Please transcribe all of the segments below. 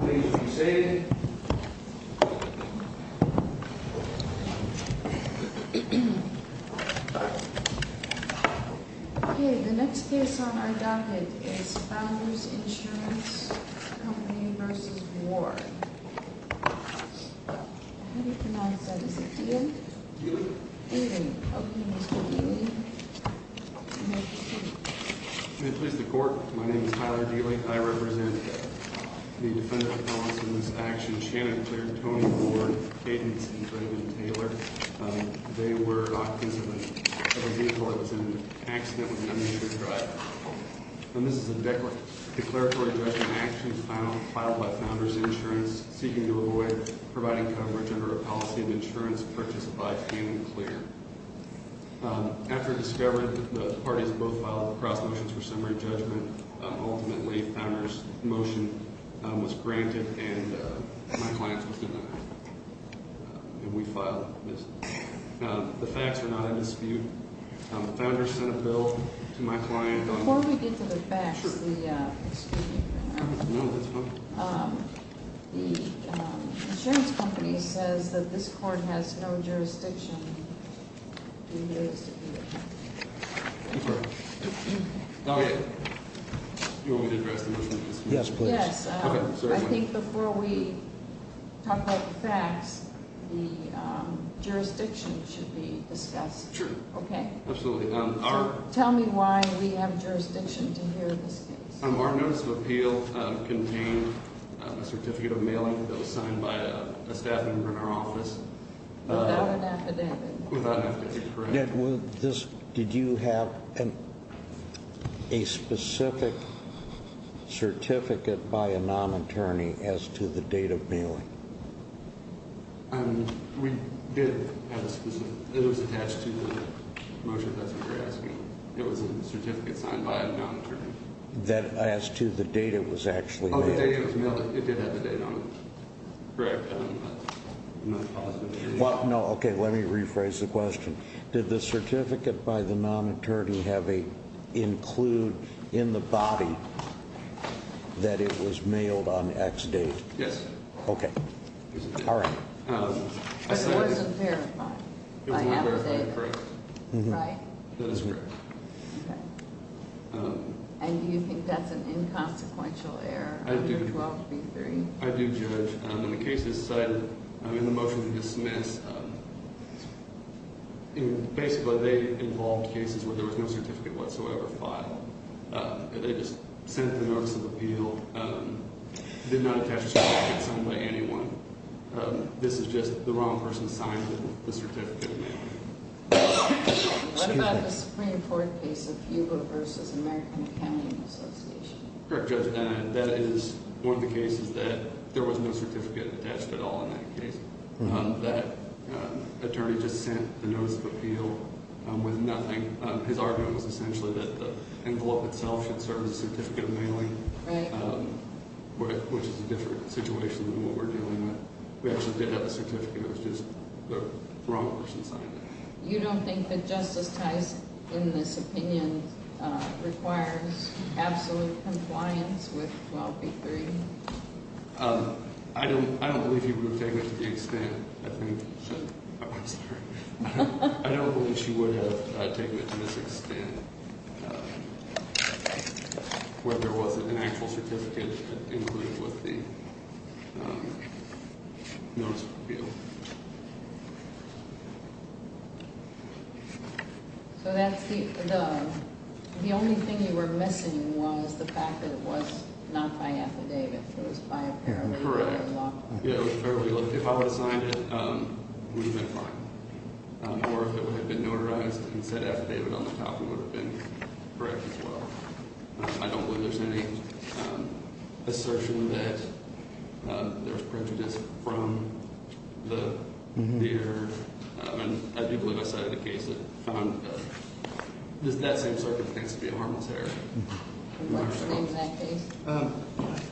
How do you pronounce that? Is it Dealey? Dealey. Okay, Mr. Dealey. May it please the Court, my name is Tyler Dealey. I represent the defendant in this action, Shannon Clear, Tony Ward, Cadence, and Brandon Taylor. They were offensively charged in an accident with an uninsured driver. And this is a declaratory judgment action filed by Founders Insurance seeking to avoid providing coverage under a policy of insurance purchased by Shannon Clear. After discovery, the parties both filed cross motions for summary judgment. Ultimately, Founders' motion was granted and my client was denied. And we filed this. The facts are not in dispute. Founders sent a bill to my client on... Do you want me to address the motion in this case? Yes, please. Yes, I think before we talk about the facts, the jurisdiction should be discussed. Sure. Okay. Absolutely. Tell me why we have jurisdiction to hear this case. Our notice of appeal contained a certificate of mailing that was signed by a staff member in our office. Without an affidavit. Without an affidavit, correct. Did you have a specific certificate by a non-attorney as to the date of mailing? We did have a specific... It was attached to the motion that you're asking. It was a certificate signed by a non-attorney. That as to the date it was actually mailed? Oh, the date it was mailed. It did have the date on it. Correct. Okay, let me rephrase the question. Did the certificate by the non-attorney include in the body that it was mailed on X date? Yes. Okay. All right. It wasn't verified by affidavit, right? That is correct. Okay. And do you think that's an inconsequential error under 1233? I do judge. In the cases cited in the motion to dismiss, basically they involved cases where there was no certificate whatsoever filed. They just sent the notice of appeal, did not attach a certificate signed by anyone. This is just the wrong person signed the certificate. What about the Supreme Court case of Hugo v. American Accounting Association? Correct, Judge. That is one of the cases that there was no certificate attached at all in that case. That attorney just sent the notice of appeal with nothing. His argument was essentially that the envelope itself should serve as a certificate of mailing, which is a different situation than what we're dealing with. We actually did have a certificate. It was just the wrong person signed it. You don't think that Justice Tice, in this opinion, requires absolute compliance with 1283? I don't believe she would have taken it to the extent, I think. Oh, I'm sorry. Notice of appeal. So the only thing you were missing was the fact that it was not by affidavit. It was by apparel. Correct. If I would have signed it, we would have been fine. Or if it would have been notarized and said affidavit on the top, we would have been correct as well. I don't believe there's any assertion that there's prejudice from the theater. I do believe I cited a case that found that that same circuit thinks to be a harmless area. What's the name of that case?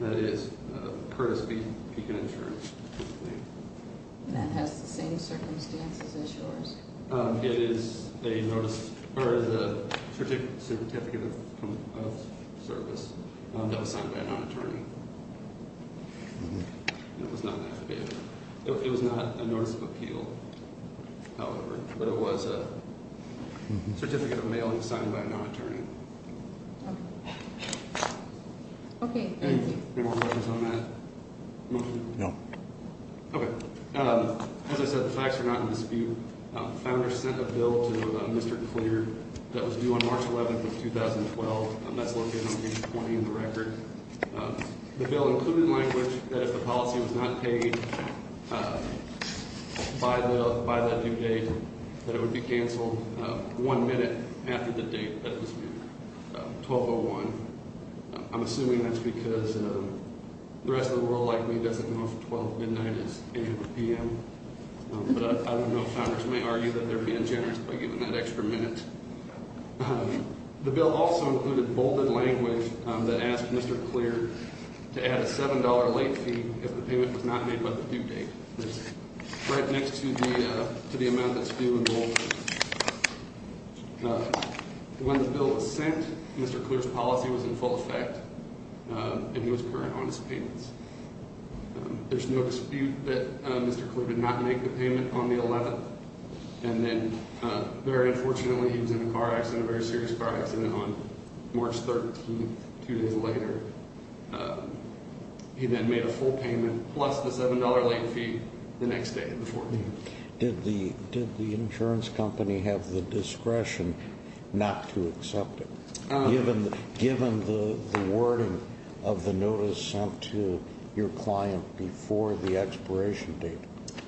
That is Curtis v. Beacon Insurance. That has the same circumstances as yours. It is a notice or the certificate of service that was signed by an attorney. It was not an affidavit. It was not a notice of appeal, however. But it was a certificate of mailing signed by a non-attorney. Okay. Thank you. Any more questions on that motion? No. Okay. As I said, the facts are not in dispute. Founder sent a bill to Mr. Clear that was due on March 11th of 2012. That's located on page 20 in the record. The bill included language that if the policy was not paid by that due date, that it would be canceled one minute after the date that it was due, 12-01. I'm assuming that's because the rest of the world, like me, doesn't know if 12 midnight is 8 p.m. But I don't know if founders may argue that they're being generous by giving that extra minute. The bill also included bolded language that asked Mr. Clear to add a $7 late fee if the payment was not made by the due date. That's right next to the amount that's due in bold. When the bill was sent, Mr. Clear's policy was in full effect, and he was current on his payments. There's no dispute that Mr. Clear did not make the payment on the 11th. And then, very unfortunately, he was in a car accident, a very serious car accident on March 13th, two days later. He then made a full payment plus the $7 late fee the next day, the 14th. Did the insurance company have the discretion not to accept it? Given the wording of the notice sent to your client before the expiration date?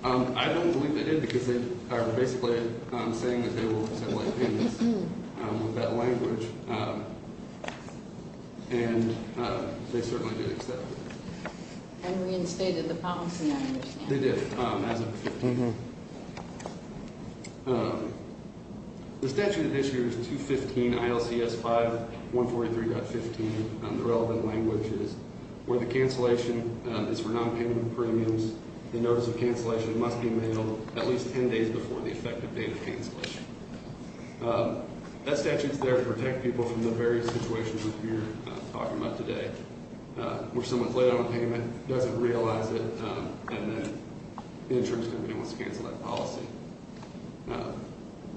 I don't believe they did, because they are basically saying that they will accept late payments with that language, and they certainly did accept it. And reinstated the policy, I understand. They did, as of the 15th. The statute at issue is 215 ILCS 5143.15. The relevant language is, where the cancellation is for nonpayment of premiums, the notice of cancellation must be mailed at least 10 days before the effective date of cancellation. That statute's there to protect people from the various situations that we're talking about today, where someone's late on payment, doesn't realize it, and then the insurance company wants to cancel that policy.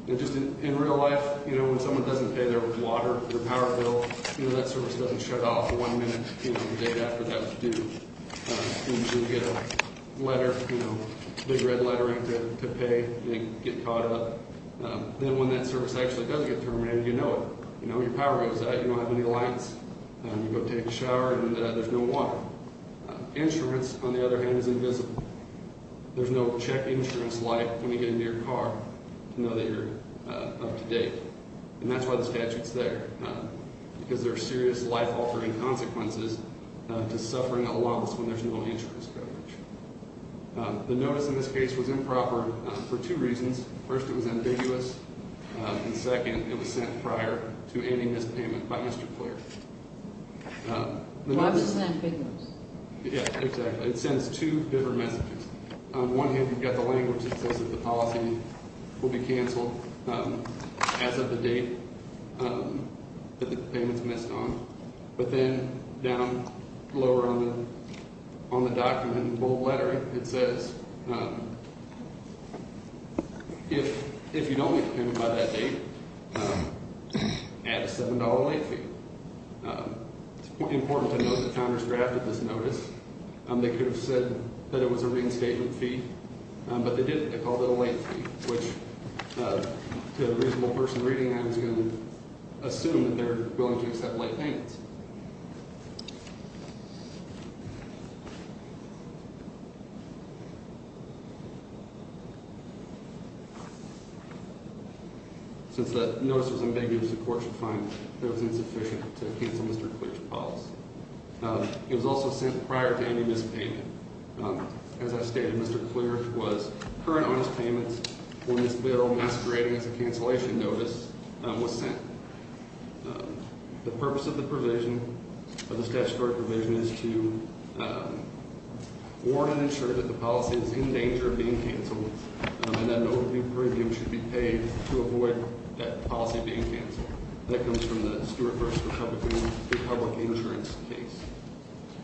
In real life, when someone doesn't pay their water, their power bill, that service doesn't shut off one minute the day after that's due. You usually get a letter, a big red lettering to pay, and you get caught up. Then when that service actually does get terminated, you know it. Your power goes out, you don't have any lights, you go take a shower, and there's no water. Insurance, on the other hand, is invisible. There's no check insurance light when you get into your car to know that you're up to date. And that's why the statute's there, because there are serious life-altering consequences to suffering a lawless when there's no insurance coverage. The notice in this case was improper for two reasons. First, it was ambiguous. And second, it was sent prior to ending this payment by Mr. Clair. Why was it ambiguous? Yeah, exactly. It sends two different messages. On one hand, you've got the language that says that the policy will be canceled as of the date that the payment's missed on. But then down lower on the document in the bold letter, it says, if you don't make the payment by that date, add a $7 late fee. It's important to note that the founders drafted this notice. They could have said that it was a reinstatement fee, but they didn't. Which, to a reasonable person reading that, was going to assume that they were willing to accept late payments. Since that notice was ambiguous, the court should find that it was insufficient to cancel Mr. Clair's policy. It was also sent prior to ending this payment. As I stated, Mr. Clair was current on his payments when this bill, masquerading as a cancellation notice, was sent. The purpose of the provision, of the statutory provision, is to warn and ensure that the policy is in danger of being canceled. And that an overdue premium should be paid to avoid that policy being canceled. That comes from the Stewart versus Republican public insurance case.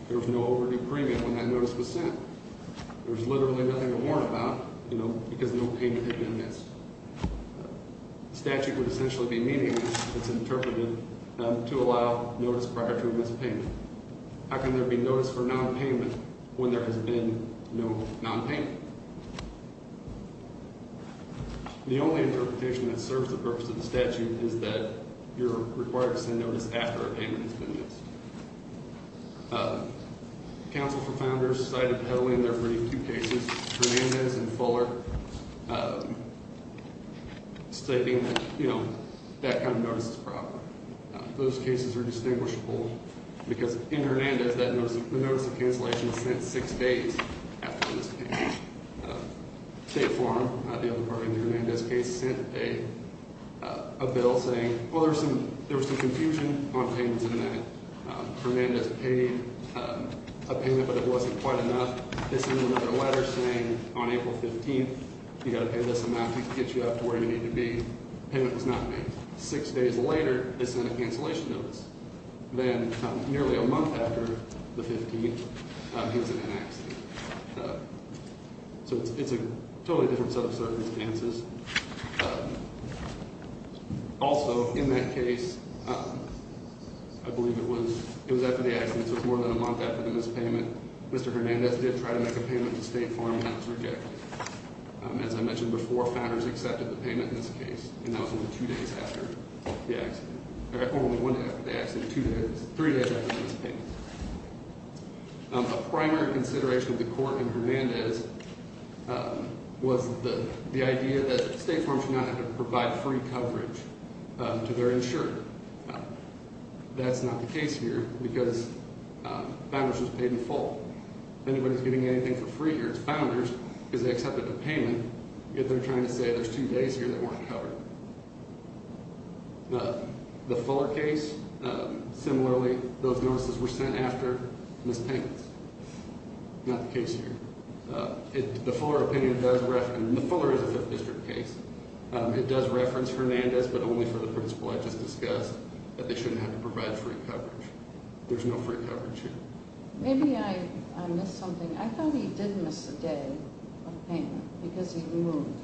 There was no overdue premium when that notice was sent. There was literally nothing to warn about, you know, because no payment had been missed. The statute would essentially be meaningless if it's interpreted to allow notice prior to a missed payment. How can there be notice for nonpayment when there has been no nonpayment? The only interpretation that serves the purpose of the statute is that you're required to send notice after a payment has been missed. Counsel for Founders cited heavily in their brief two cases, Hernandez and Fuller, stating that, you know, that kind of notice is proper. Those cases are distinguishable because in Hernandez, the notice of cancellation is sent six days after this payment. State Farm, the other party in the Hernandez case, sent a bill saying, well, there was some confusion on payments in that. Hernandez paid a payment, but it wasn't quite enough. They sent another letter saying on April 15th, you've got to pay this amount to get you up to where you need to be. The payment was not made. Six days later, they sent a cancellation notice. Then nearly a month after the 15th, he was in an accident. So it's a totally different set of circumstances. Also, in that case, I believe it was after the accident, so it's more than a month after the missed payment. Mr. Hernandez did try to make a payment to State Farm, and that was rejected. As I mentioned before, Founders accepted the payment in this case, and that was only two days after the accident. Or only one day after the accident, three days after the missed payment. A primary consideration of the court in Hernandez was the idea that State Farm should not have to provide free coverage to their insurer. That's not the case here, because Founders was paid in full. Anybody's getting anything for free here, it's Founders, because they accepted a payment. Yet they're trying to say there's two days here they weren't covered. The Fuller case, similarly, those notices were sent after missed payments. Not the case here. The Fuller opinion does reference, and the Fuller is a Fifth District case, it does reference Hernandez, but only for the principle I just discussed, that they shouldn't have to provide free coverage. There's no free coverage here. Maybe I missed something. I thought he did miss a day of payment, because he moved.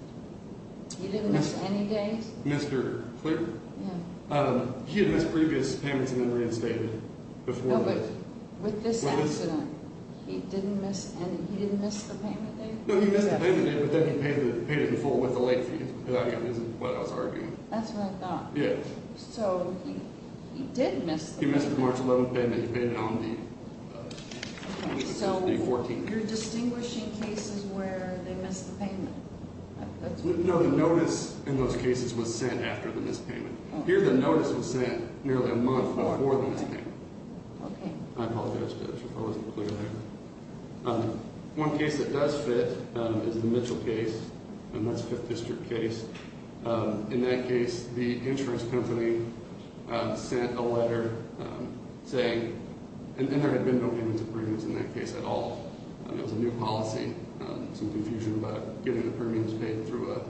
He didn't miss any days? Mr. Klicker? Yeah. He had missed previous payments and then reinstated before that. No, but with this accident, he didn't miss any, he didn't miss the payment day? No, he missed the payment day, but then he paid it in full with the late fees. That's what I was arguing. That's what I thought. Yeah. So, he did miss the payment. He missed the March 11th payment, he paid it on the 14th. You're distinguishing cases where they missed the payment. No, the notice in those cases was sent after the missed payment. Here, the notice was sent nearly a month before the missed payment. Okay. I apologize if I wasn't clear there. One case that does fit is the Mitchell case, and that's a Fifth District case. In that case, the insurance company sent a letter saying, and there had been no payments or premiums in that case at all. It was a new policy. Some confusion about getting the premiums paid through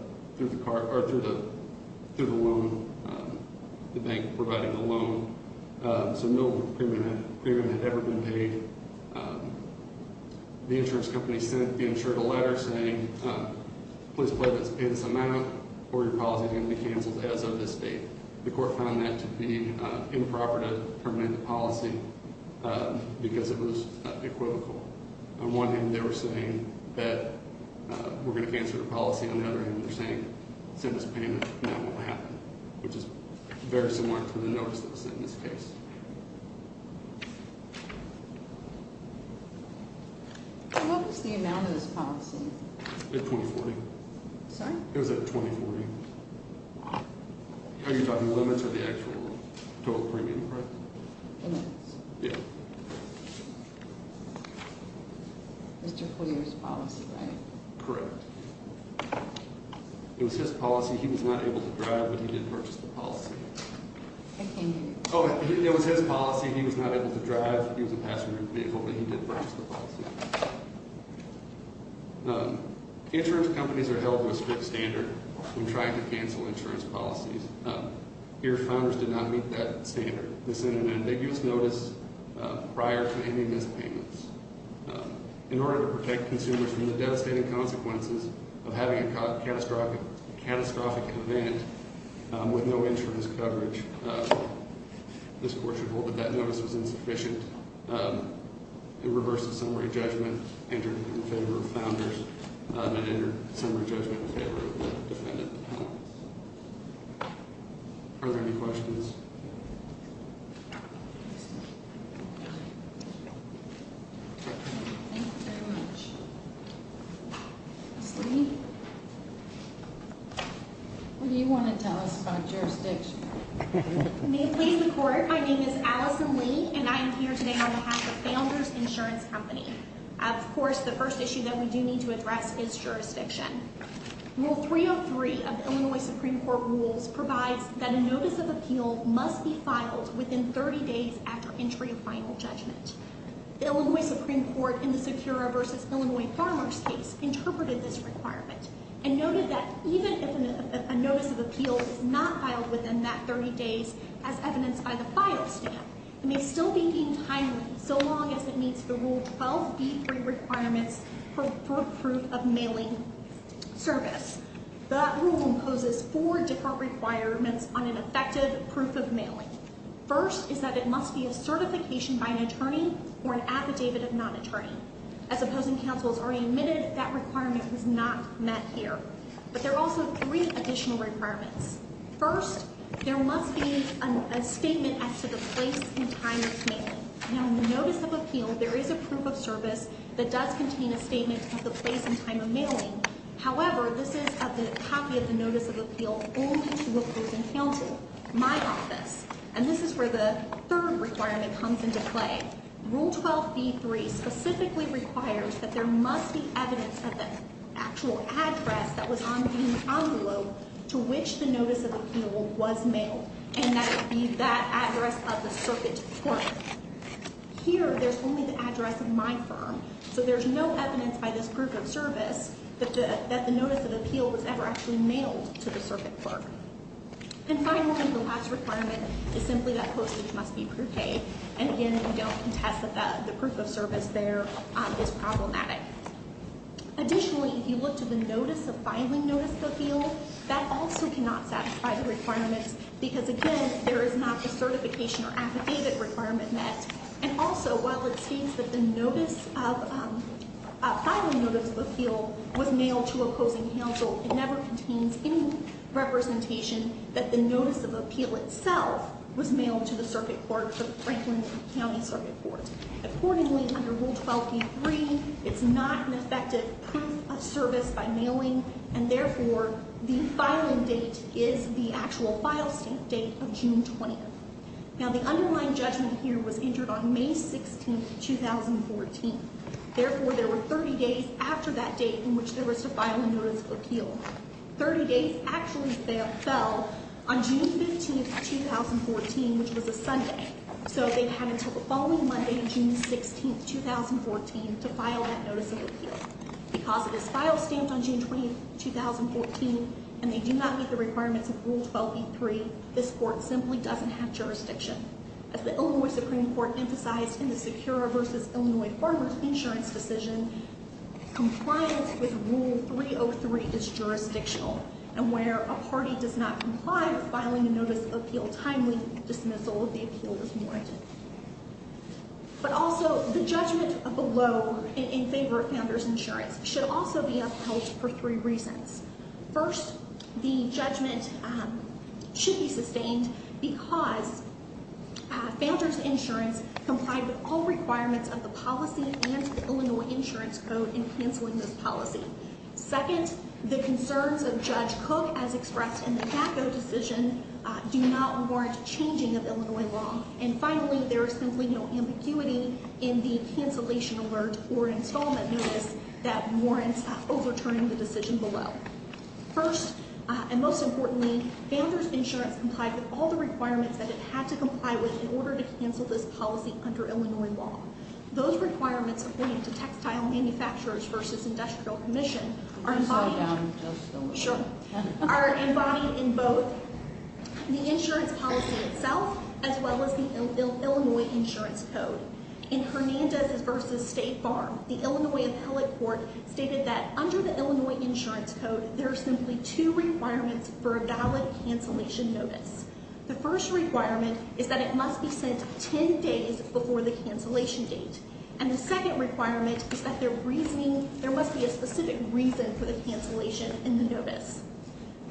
the loan, the bank providing the loan. So, no premium had ever been paid. The insurance company sent the insurer a letter saying, please pledge this amount or your policy is going to be canceled as of this date. The court found that to be improper to terminate the policy because it was equivocal. On one hand, they were saying that we're going to cancel the policy. On the other hand, they're saying send us a payment and that won't happen, which is very similar to the notice that was sent in this case. What was the amount of this policy? At 2040. Sorry? It was at 2040. Oh, you're talking limits or the actual total premium, right? Limits. Yeah. Mr. Foley's policy, right? Correct. It was his policy. He was not able to drive, but he did purchase the policy. I can't hear you. Oh, it was his policy. He was not able to drive. He was a passenger vehicle, but he did purchase the policy. Insurance companies are held to a strict standard. We tried to cancel insurance policies. Your founders did not meet that standard. They sent an ambiguous notice prior to any missed payments. In order to protect consumers from the devastating consequences of having a catastrophic event with no insurance coverage, this court should hold that that notice was insufficient. It reversed the summary judgment, entered it in favor of the founders, and entered the summary judgment in favor of the defendant. Are there any questions? Thank you very much. Ms. Lee? What do you want to tell us about jurisdiction? May it please the Court, my name is Allison Lee, and I am here today on behalf of Founders Insurance Company. Of course, the first issue that we do need to address is jurisdiction. Rule 303 of the Illinois Supreme Court rules provides that a notice of appeal must be filed within 30 days after entry of final judgment. The Illinois Supreme Court, in the Secura v. Illinois Farmers case, interpreted this requirement and noted that even if a notice of appeal is not filed within that 30 days as evidenced by the file stamp, it may still be deemed timely so long as it meets the Rule 12b3 requirements for proof of mailing service. That rule imposes four different requirements on an effective proof of mailing. First is that it must be a certification by an attorney or an affidavit of non-attorney. As opposing counsels already admitted, that requirement was not met here. But there are also three additional requirements. First, there must be a statement as to the place and time of mailing. Now, in the notice of appeal, there is a proof of service that does contain a statement of the place and time of mailing. However, this is a copy of the notice of appeal only to opposing counsel, my office. And this is where the third requirement comes into play. Rule 12b3 specifically requires that there must be evidence of the actual address that was on the envelope to which the notice of appeal was mailed, and that would be that address of the circuit clerk. Here, there's only the address of my firm, so there's no evidence by this proof of service that the notice of appeal was ever actually mailed to the circuit clerk. And finally, the last requirement is simply that postage must be prepaid. And again, we don't contest that the proof of service there is problematic. Additionally, if you look to the notice of filing notice of appeal, that also cannot satisfy the requirements because, again, there is not the certification or affidavit requirement met. And also, while it states that the filing notice of appeal was mailed to opposing counsel, it never contains any representation that the notice of appeal itself was mailed to the circuit clerk for the Franklin County Circuit Court. Accordingly, under Rule 12b3, it's not an effective proof of service by mailing, and therefore, the filing date is the actual file stamp date of June 20th. Now, the underlying judgment here was entered on May 16th, 2014. Therefore, there were 30 days after that date in which there was to file a notice of appeal. Thirty days actually fell on June 15th, 2014, which was a Sunday. So they had until the following Monday, June 16th, 2014, to file that notice of appeal. Because it is file stamped on June 20th, 2014, and they do not meet the requirements of Rule 12b3, this court simply doesn't have jurisdiction. As the Illinois Supreme Court emphasized in the Secura v. Illinois Farmers Insurance decision, compliance with Rule 303 is jurisdictional. And where a party does not comply with filing a notice of appeal timely, dismissal of the appeal is warranted. But also, the judgment below in favor of Founders Insurance should also be upheld for three reasons. First, the judgment should be sustained because Founders Insurance complied with all requirements of the policy and the Illinois Insurance Code in canceling this policy. Second, the concerns of Judge Cook, as expressed in the DACA decision, do not warrant changing of Illinois law. And finally, there is simply no ambiguity in the cancellation alert or installment notice that warrants overturning the decision below. First, and most importantly, Founders Insurance complied with all the requirements that it had to comply with in order to cancel this policy under Illinois law. Those requirements, according to Textile Manufacturers v. Industrial Commission, are embodied in both the insurance policy itself as well as the Illinois Insurance Code. In Hernandez v. State Farm, the Illinois Appellate Court stated that under the Illinois Insurance Code, there are simply two requirements for a valid cancellation notice. The first requirement is that it must be sent 10 days before the cancellation date. And the second requirement is that there must be a specific reason for the cancellation in the notice.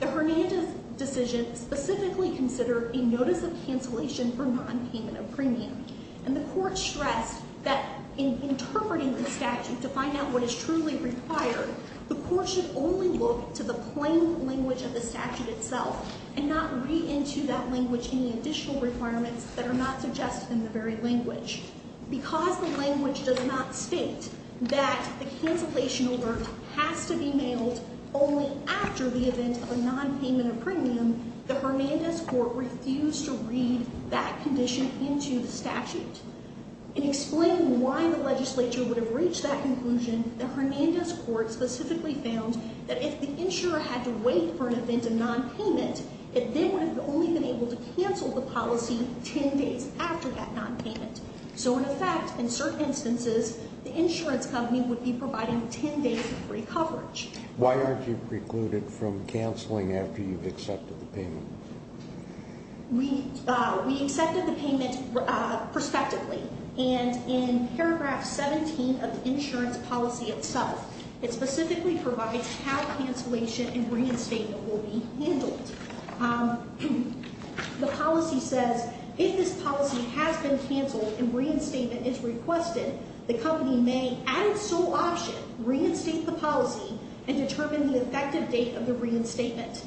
The Hernandez decision specifically considered a notice of cancellation for non-payment of premium. And the Court stressed that in interpreting the statute to find out what is truly required, the Court should only look to the plain language of the statute itself and not read into that language any additional requirements that are not suggested in the very language. Because the language does not state that the cancellation order has to be mailed only after the event of a non-payment of premium, the Hernandez Court refused to read that condition into the statute. In explaining why the legislature would have reached that conclusion, the Hernandez Court specifically found that if the insurer had to wait for an event of non-payment, it then would have only been able to cancel the policy 10 days after that non-payment. So in effect, in certain instances, the insurance company would be providing 10 days of free coverage. Why aren't you precluded from canceling after you've accepted the payment? We accepted the payment prospectively. And in paragraph 17 of the insurance policy itself, it specifically provides how cancellation and reinstatement will be handled. The policy says, if this policy has been canceled and reinstatement is requested, the company may, at its sole option, reinstate the policy and determine the effective date of the reinstatement.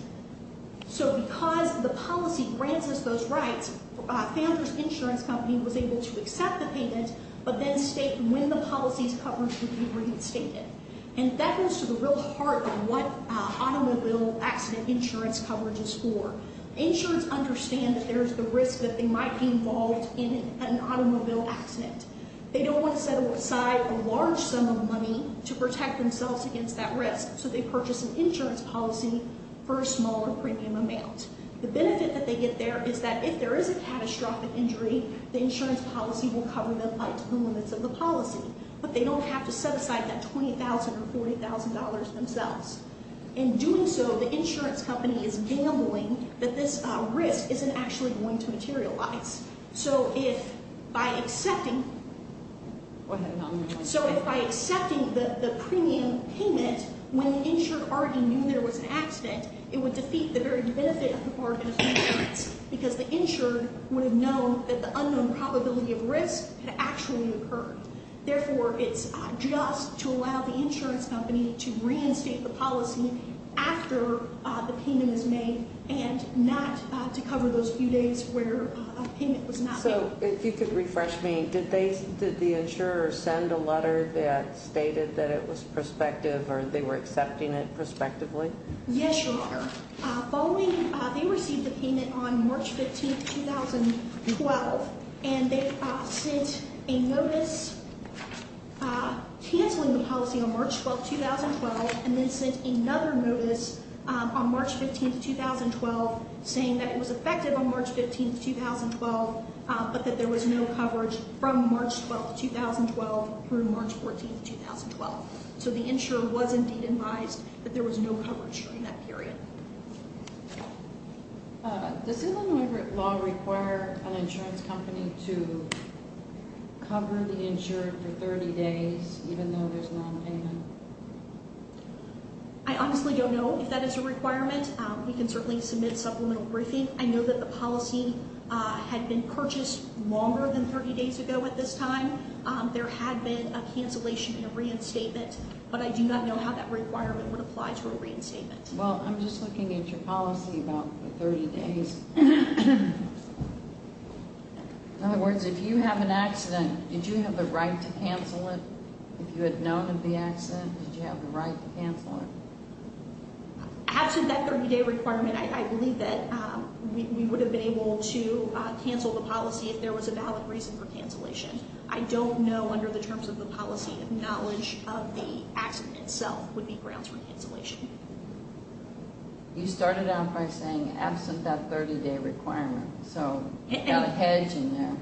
So because the policy grants us those rights, Founders Insurance Company was able to accept the payment, but then state when the policy's coverage would be reinstated. And that goes to the real heart of what automobile accident insurance coverage is for. Insurance understand that there's the risk that they might be involved in an automobile accident. They don't want to set aside a large sum of money to protect themselves against that risk, so they purchase an insurance policy for a smaller premium amount. The benefit that they get there is that if there is a catastrophic injury, the insurance policy will cover them by two limits of the policy. But they don't have to set aside that $20,000 or $40,000 themselves. In doing so, the insurance company is gambling that this risk isn't actually going to materialize. So if by accepting the premium payment, when the insured already knew there was an accident, it would defeat the very benefit of the bargain of insurance, because the insured would have known that the unknown probability of risk had actually occurred. Therefore, it's just to allow the insurance company to reinstate the policy after the payment is made and not to cover those few days where a payment was not made. So if you could refresh me, did the insurer send a letter that stated that it was prospective or they were accepting it prospectively? Yes, Your Honor. They received the payment on March 15, 2012, and they sent a notice canceling the policy on March 12, 2012, and then sent another notice on March 15, 2012, saying that it was effective on March 15, 2012, but that there was no coverage from March 12, 2012 through March 14, 2012. So the insurer was indeed advised that there was no coverage during that period. Does Illinois law require an insurance company to cover the insured for 30 days, even though there's no payment? I honestly don't know if that is a requirement. We can certainly submit supplemental briefing. I know that the policy had been purchased longer than 30 days ago at this time. There had been a cancellation and a reinstatement, but I do not know how that requirement would apply to a reinstatement. Well, I'm just looking at your policy about the 30 days. In other words, if you have an accident, did you have the right to cancel it? If you had known of the accident, did you have the right to cancel it? After that 30-day requirement, I believe that we would have been able to cancel the policy if there was a valid reason for cancellation. I don't know, under the terms of the policy, if knowledge of the accident itself would be grounds for cancellation. You started out by saying, absent that 30-day requirement. So, you've got a hedge in there.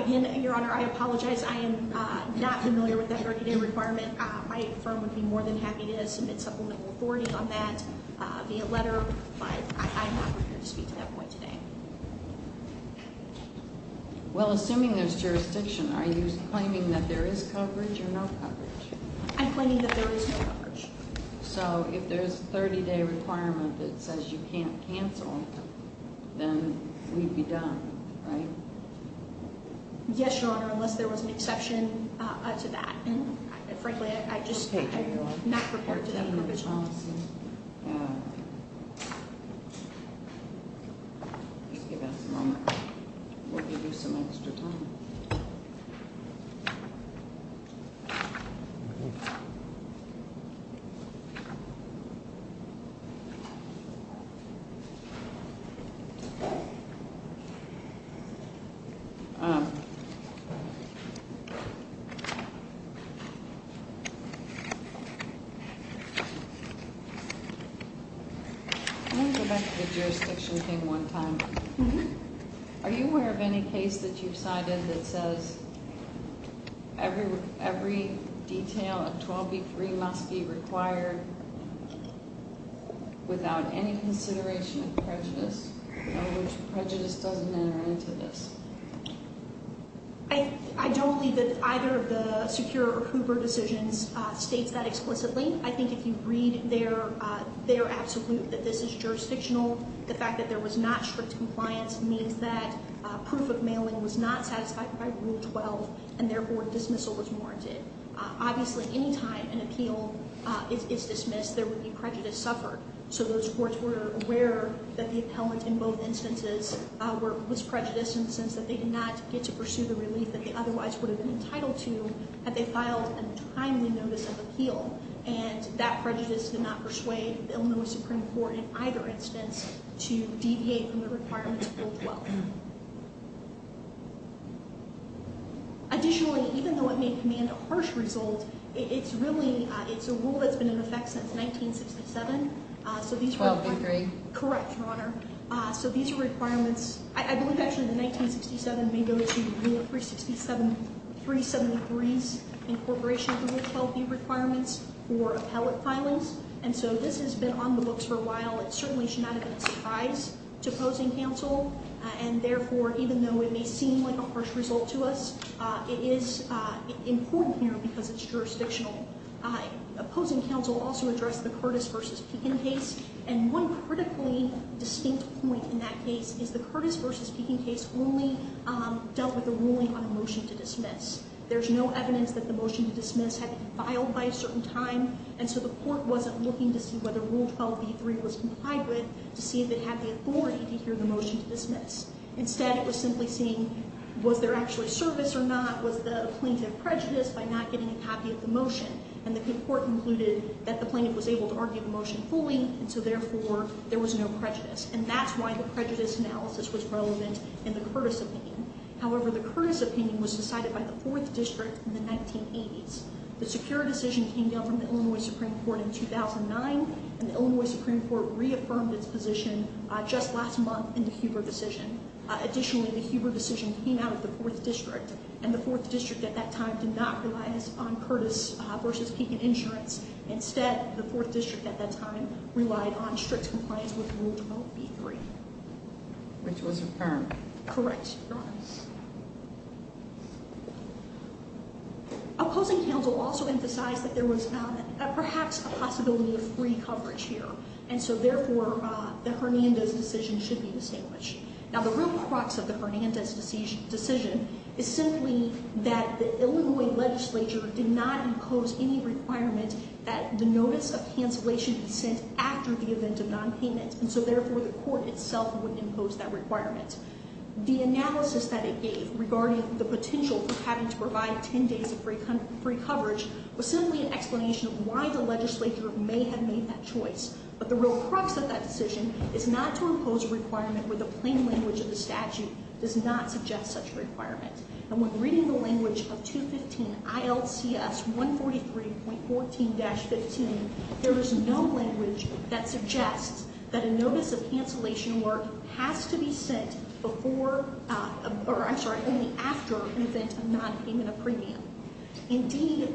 Again, Your Honor, I apologize. I am not familiar with that 30-day requirement. My firm would be more than happy to submit supplemental authority on that via letter, but I'm not prepared to speak to that point today. Well, assuming there's jurisdiction, are you claiming that there is coverage or no coverage? I'm claiming that there is no coverage. So, if there's a 30-day requirement that says you can't cancel, then we'd be done, right? Yes, Your Honor, unless there was an exception to that. And, frankly, I'm not prepared to make that recommendation. Thank you, counsel. Just give us a moment. We'll give you some extra time. I want to go back to the jurisdiction thing one time. Are you aware of any case that you've cited that says every detail of 12b-3 must be required without any consideration of prejudice, in other words, prejudice doesn't enter into this? I don't believe that either of the secure or Hoover decisions states that explicitly. I think if you read their absolute that this is jurisdictional, the fact that there was not strict compliance means that proof of mailing was not satisfied by Rule 12 and, therefore, dismissal was warranted. Obviously, any time an appeal is dismissed, there would be prejudice suffered. So those courts were aware that the appellant in both instances was prejudiced in the sense that they did not get to pursue the relief that they otherwise would have been entitled to had they filed a timely notice of appeal. And that prejudice did not persuade the Illinois Supreme Court in either instance to deviate from the requirements of Rule 12. Additionally, even though it may command a harsh result, it's a rule that's been in effect since 1967. 12b-3. Correct, Your Honor. So these are requirements. I believe, actually, that 1967 may go to Rule 367-373's incorporation of Rule 12b requirements for appellate filings. And so this has been on the books for a while. It certainly should not have been a surprise to opposing counsel. And, therefore, even though it may seem like a harsh result to us, it is important here because it's jurisdictional. Opposing counsel also addressed the Curtis v. Pekin case. And one critically distinct point in that case is the Curtis v. Pekin case only dealt with the ruling on a motion to dismiss. There's no evidence that the motion to dismiss had been filed by a certain time. And so the court wasn't looking to see whether Rule 12b-3 was complied with to see if it had the authority to hear the motion to dismiss. Instead, it was simply seeing, was there actually service or not? Was the plaintiff prejudiced by not getting a copy of the motion? And the court concluded that the plaintiff was able to argue the motion fully, and so, therefore, there was no prejudice. And that's why the prejudice analysis was relevant in the Curtis opinion. However, the Curtis opinion was decided by the 4th District in the 1980s. The secure decision came down from the Illinois Supreme Court in 2009, and the Illinois Supreme Court reaffirmed its position just last month in the Huber decision. Additionally, the Huber decision came out of the 4th District, and the 4th District at that time did not rely on Curtis v. Pekin insurance. Instead, the 4th District at that time relied on strict compliance with Rule 12b-3. Correct, Your Honor. Opposing counsel also emphasized that there was perhaps a possibility of free coverage here, and so, therefore, the Hernandez decision should be distinguished. Now, the real crux of the Hernandez decision is simply that the Illinois legislature did not impose any requirement that the notice of cancellation be sent after the event of nonpayment, and so, therefore, the court itself would impose that requirement. The analysis that it gave regarding the potential for having to provide 10 days of free coverage was simply an explanation of why the legislature may have made that choice. But the real crux of that decision is not to impose a requirement where the plain language of the statute does not suggest such a requirement. And when reading the language of 215 ILCS 143.14-15, there is no language that suggests that a notice of cancellation work has to be sent only after an event of nonpayment of premium. Indeed,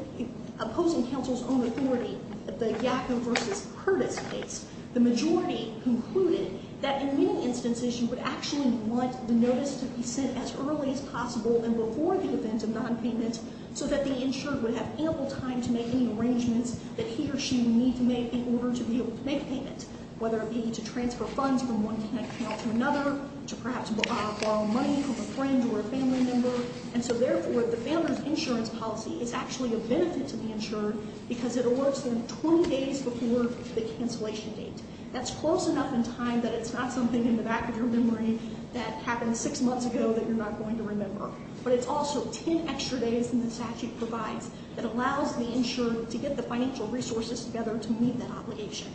opposing counsel's own authority at the Yackov v. Curtis case, the majority concluded that in many instances you would actually want the notice to be sent as early as possible and before the event of nonpayment so that the insured would have ample time to make any arrangements that he or she would need to make in order to be able to make payment, whether it be to transfer funds from one account to another, to perhaps borrow money from a friend or a family member. And so therefore, the family's insurance policy is actually a benefit to the insured because it awards them 20 days before the cancellation date. That's close enough in time that it's not something in the back of your memory that happened six months ago that you're not going to remember. But it's also 10 extra days than the statute provides that allows the insured to get the financial resources together to meet that obligation.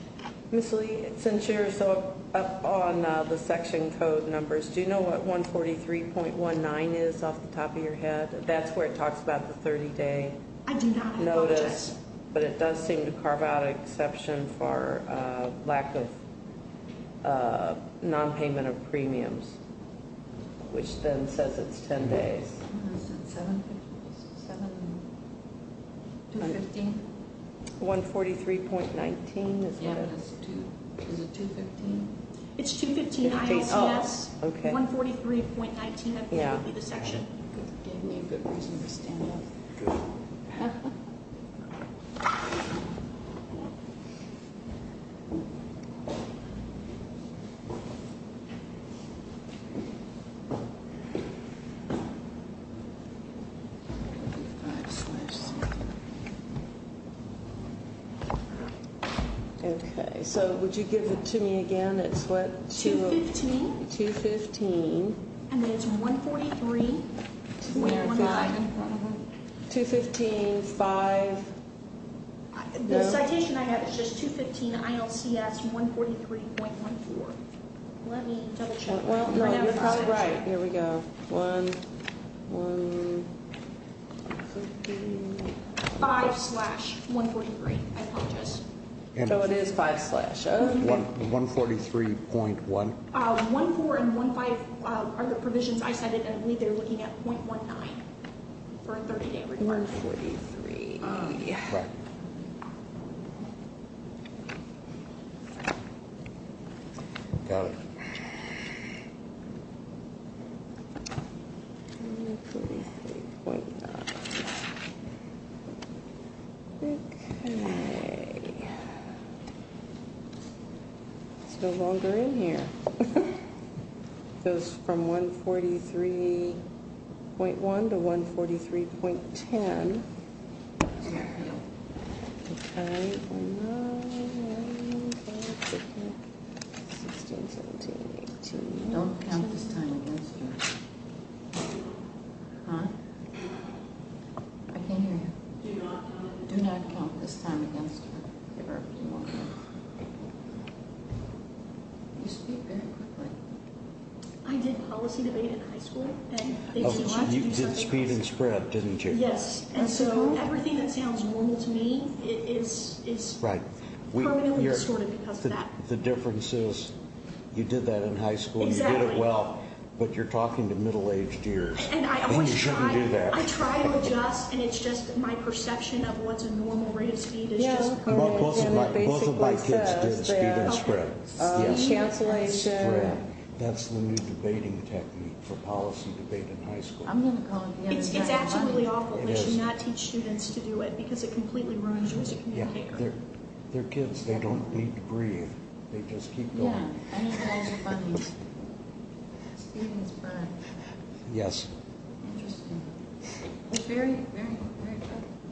Ms. Lee, since you're so up on the section code numbers, do you know what 143.19 is off the top of your head? That's where it talks about the 30-day notice. I do not have notice. But it does seem to carve out an exception for lack of nonpayment of premiums, which then says it's 10 days. I said 7 days, 7 and 215. 143.19. Is it 215? It's 215. 143.19 would be the section. Gave me a good reason to stand up. Okay. So would you give it to me again? It's what? 215. 215. And then it's 143.19. 215.5. The citation I have is just 215 ILCS 143.14. Let me double check. Well, no, you're probably right. Here we go. One, one. Five slash 143. I apologize. So it is five slash. 143.1. 14 and 15 are the provisions I cited, and I believe they're looking at 0.19 for a 30-day report. 143. Right. Got it. 143.9. Okay. It's no longer in here. It goes from 143.1 to 143.10. Okay. 16, 17, 18. Don't count this time against her. Huh? I can't hear you. Do not count this time against her. Give her a few more minutes. You speak very quickly. I did policy debate in high school, and they teach you how to do something. You did speed and spread, didn't you? Yes. And so everything that sounds normal to me is permanently distorted because of that. The difference is you did that in high school and you did it well, but you're talking to middle-aged ears, and you shouldn't do that. I try to adjust, and it's just my perception of what's a normal rate of speed is just permanent. Both of my kids did speed and spread. Speed and spread. That's the new debating technique for policy debate in high school. It's actually really awful that you not teach students to do it because it completely ruins you as a communicator. They're kids. They don't need to breathe. They just keep going. Yeah. Speed and spread. Yes. Very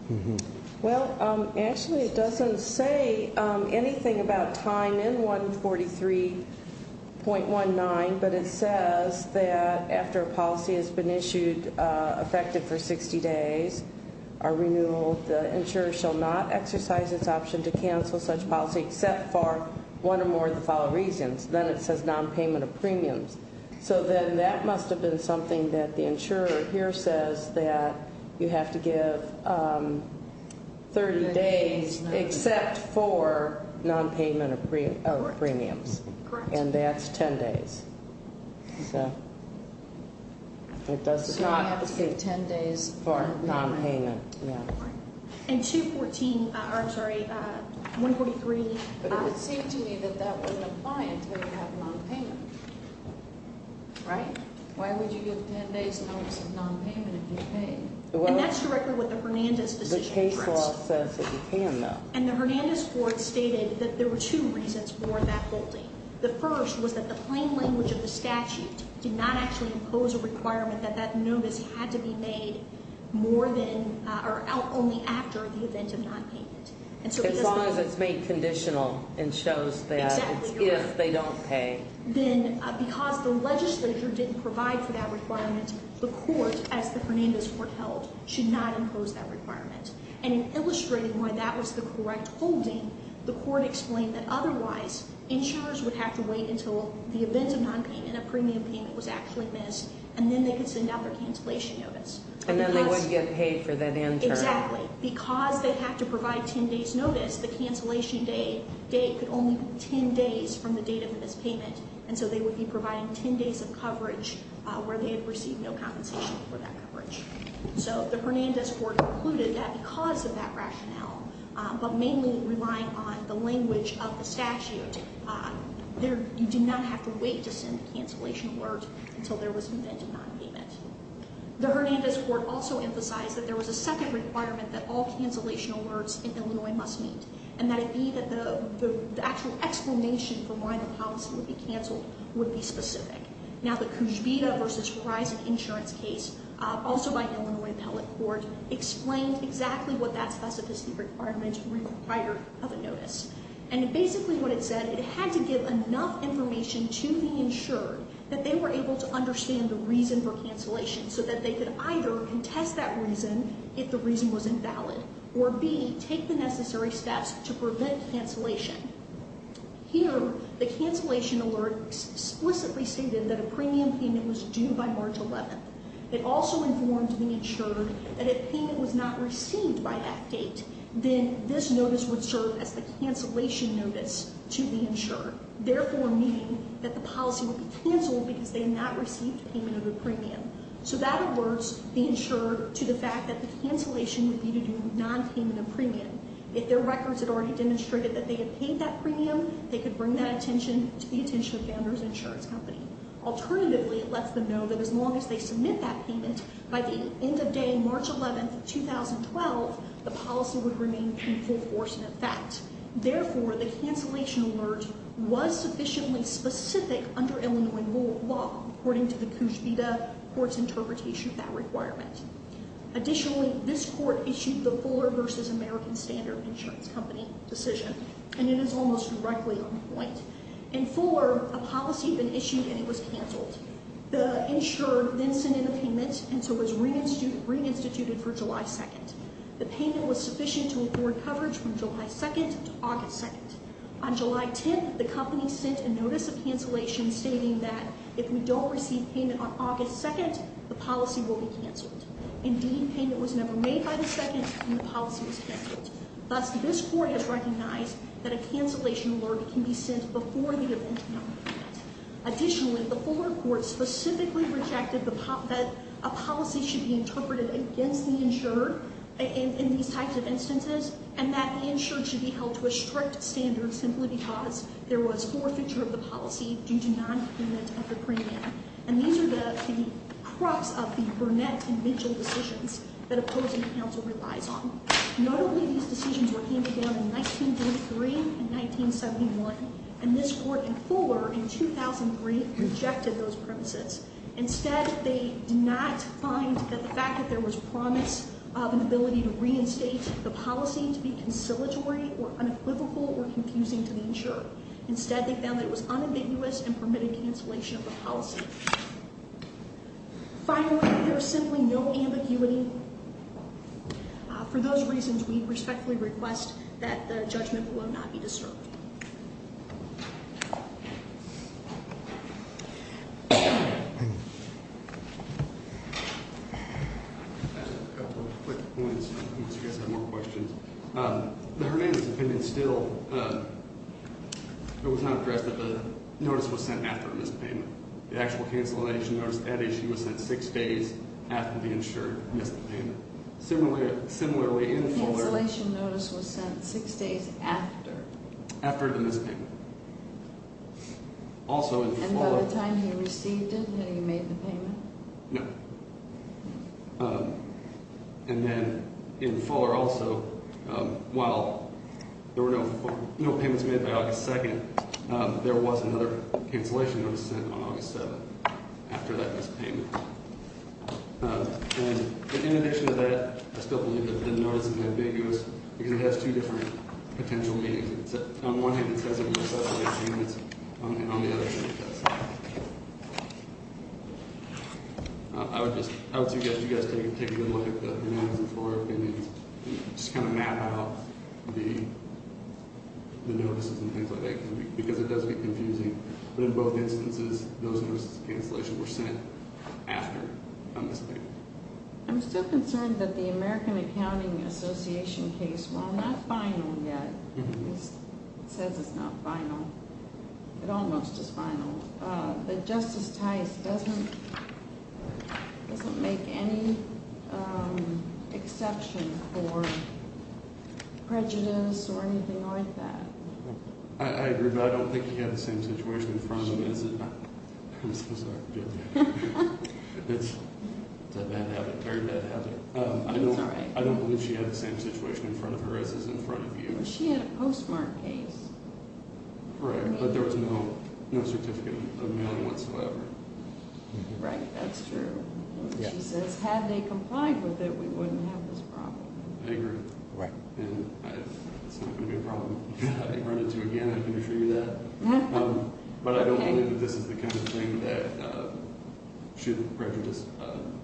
good. Well, actually it doesn't say anything about time in 143.19, but it says that after a policy has been issued effective for 60 days, our renewal, the insurer shall not exercise its option to cancel such policy except for one or more of the following reasons. Then it says non-payment of premiums. So then that must have been something that the insurer here says that you have to give 30 days except for non-payment of premiums. Correct. And that's 10 days. So it does not say 10 days for non-payment. Correct. And 214, I'm sorry, 143. But it would seem to me that that wouldn't apply until you have non-payment. Right? Why would you give 10 days notice of non-payment if you paid? And that's directly with the Hernandez decision. The case law says that you can, though. And the Hernandez court stated that there were two reasons for that holding. The first was that the plain language of the statute did not actually impose a requirement that that notice had to be made more than or only after the event of non-payment. As long as it's made conditional and shows that it's if they don't pay. Then because the legislature didn't provide for that requirement, the court, as the Hernandez court held, should not impose that requirement. And it illustrated why that was the correct holding. The court explained that otherwise insurers would have to wait until the event of non-payment, a premium payment, was actually missed, and then they could send out their cancellation notice. And then they would get paid for that interim. Exactly. But because they had to provide 10 days notice, the cancellation date could only be 10 days from the date of the mispayment. And so they would be providing 10 days of coverage where they had received no compensation for that coverage. So the Hernandez court concluded that because of that rationale, but mainly relying on the language of the statute, you did not have to wait to send the cancellation alert until there was an event of non-payment. The Hernandez court also emphasized that there was a second requirement that all cancellation alerts in Illinois must meet. And that it be that the actual explanation for why the policy would be canceled would be specific. Now the Cujbida versus Verizon insurance case, also by Illinois appellate court, explained exactly what that specificity requirement required of a notice. And basically what it said, it had to give enough information to the insured that they were able to understand the reason for cancellation so that they could either contest that reason if the reason was invalid, or B, take the necessary steps to prevent cancellation. Here, the cancellation alert explicitly stated that a premium payment was due by March 11th. It also informed the insured that if payment was not received by that date, then this notice would serve as the cancellation notice to the insured. Therefore meaning that the policy would be canceled because they not received payment of a premium. So that alerts the insured to the fact that the cancellation would be due to non-payment of premium. If their records had already demonstrated that they had paid that premium, they could bring that attention to the attention of the founders insurance company. Alternatively, it lets them know that as long as they submit that payment by the end of day March 11th, 2012, the policy would remain in full force in effect. Therefore, the cancellation alert was sufficiently specific under Illinois law, according to the Cujbida court's interpretation of that requirement. Additionally, this court issued the Fuller versus American Standard Insurance Company decision, and it is almost directly on point. In Fuller, a policy had been issued and it was canceled. The insured then sent in a payment, and so it was reinstituted for July 2nd. The payment was sufficient to afford coverage from July 2nd to August 2nd. On July 10th, the company sent a notice of cancellation stating that if we don't receive payment on August 2nd, the policy will be canceled. Indeed, payment was never made by the 2nd, and the policy was canceled. Thus, this court has recognized that a cancellation alert can be sent before the event of nonpayment. Additionally, the Fuller court specifically rejected that a policy should be interpreted against the insured in these types of instances, and that the insured should be held to a strict standard simply because there was forfeiture of the policy due to nonpayment of the premium. And these are the crux of the Burnett and Mitchell decisions that opposing counsel relies on. Not only these decisions were handed down in 1943 and 1971, and this court in Fuller in 2003 rejected those premises. Instead, they did not find that the fact that there was promise of an ability to reinstate the policy to be conciliatory or unequivocal or confusing to the insured. Instead, they found that it was unambiguous and permitted cancellation of the policy. Finally, there is simply no ambiguity. For those reasons, we respectfully request that the judgment will not be disturbed. I have a couple of quick points in case you guys have more questions. The Hernandez opinion still, it was not addressed that the notice was sent after a missed payment. The actual cancellation notice at issue was sent six days after the insured missed the payment. Similarly, in Fuller- The cancellation notice was sent six days after. After the missed payment. Also in Fuller- And by the time he received it, had he made the payment? No. And then in Fuller also, while there were no payments made by August 2nd, there was another cancellation notice sent on August 7th after that missed payment. And in addition to that, I still believe that the notice is ambiguous because it has two different potential meanings. On one hand, it says it was a missed payment and on the other hand, it doesn't. I would just, I would suggest you guys take a good look at the Hernandez and Fuller opinions and just kind of map out the notices and things like that because it does get confusing. But in both instances, those notices of cancellation were sent after a missed payment. I'm still concerned that the American Accounting Association case, while not final yet, it says it's not final. It almost is final. But Justice Tice doesn't make any exception for prejudice or anything like that. I agree, but I don't think he had the same situation in front of him as- I'm so sorry. It's a bad habit, very bad habit. I'm sorry. I don't believe she had the same situation in front of her as is in front of you. She had a postmark case. Right, but there was no certificate of mailing whatsoever. Right, that's true. She says, had they complied with it, we wouldn't have this problem. I agree. Right. And it's not going to be a problem if they run into it again. I can assure you of that. But I don't believe that this is the kind of thing that should prejudice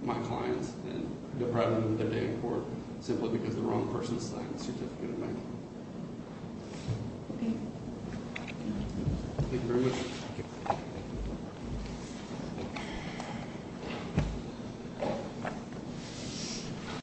my clients and deprive them of their day in court simply because the wrong person signed the certificate of mailing. Thank you very much. Thank you.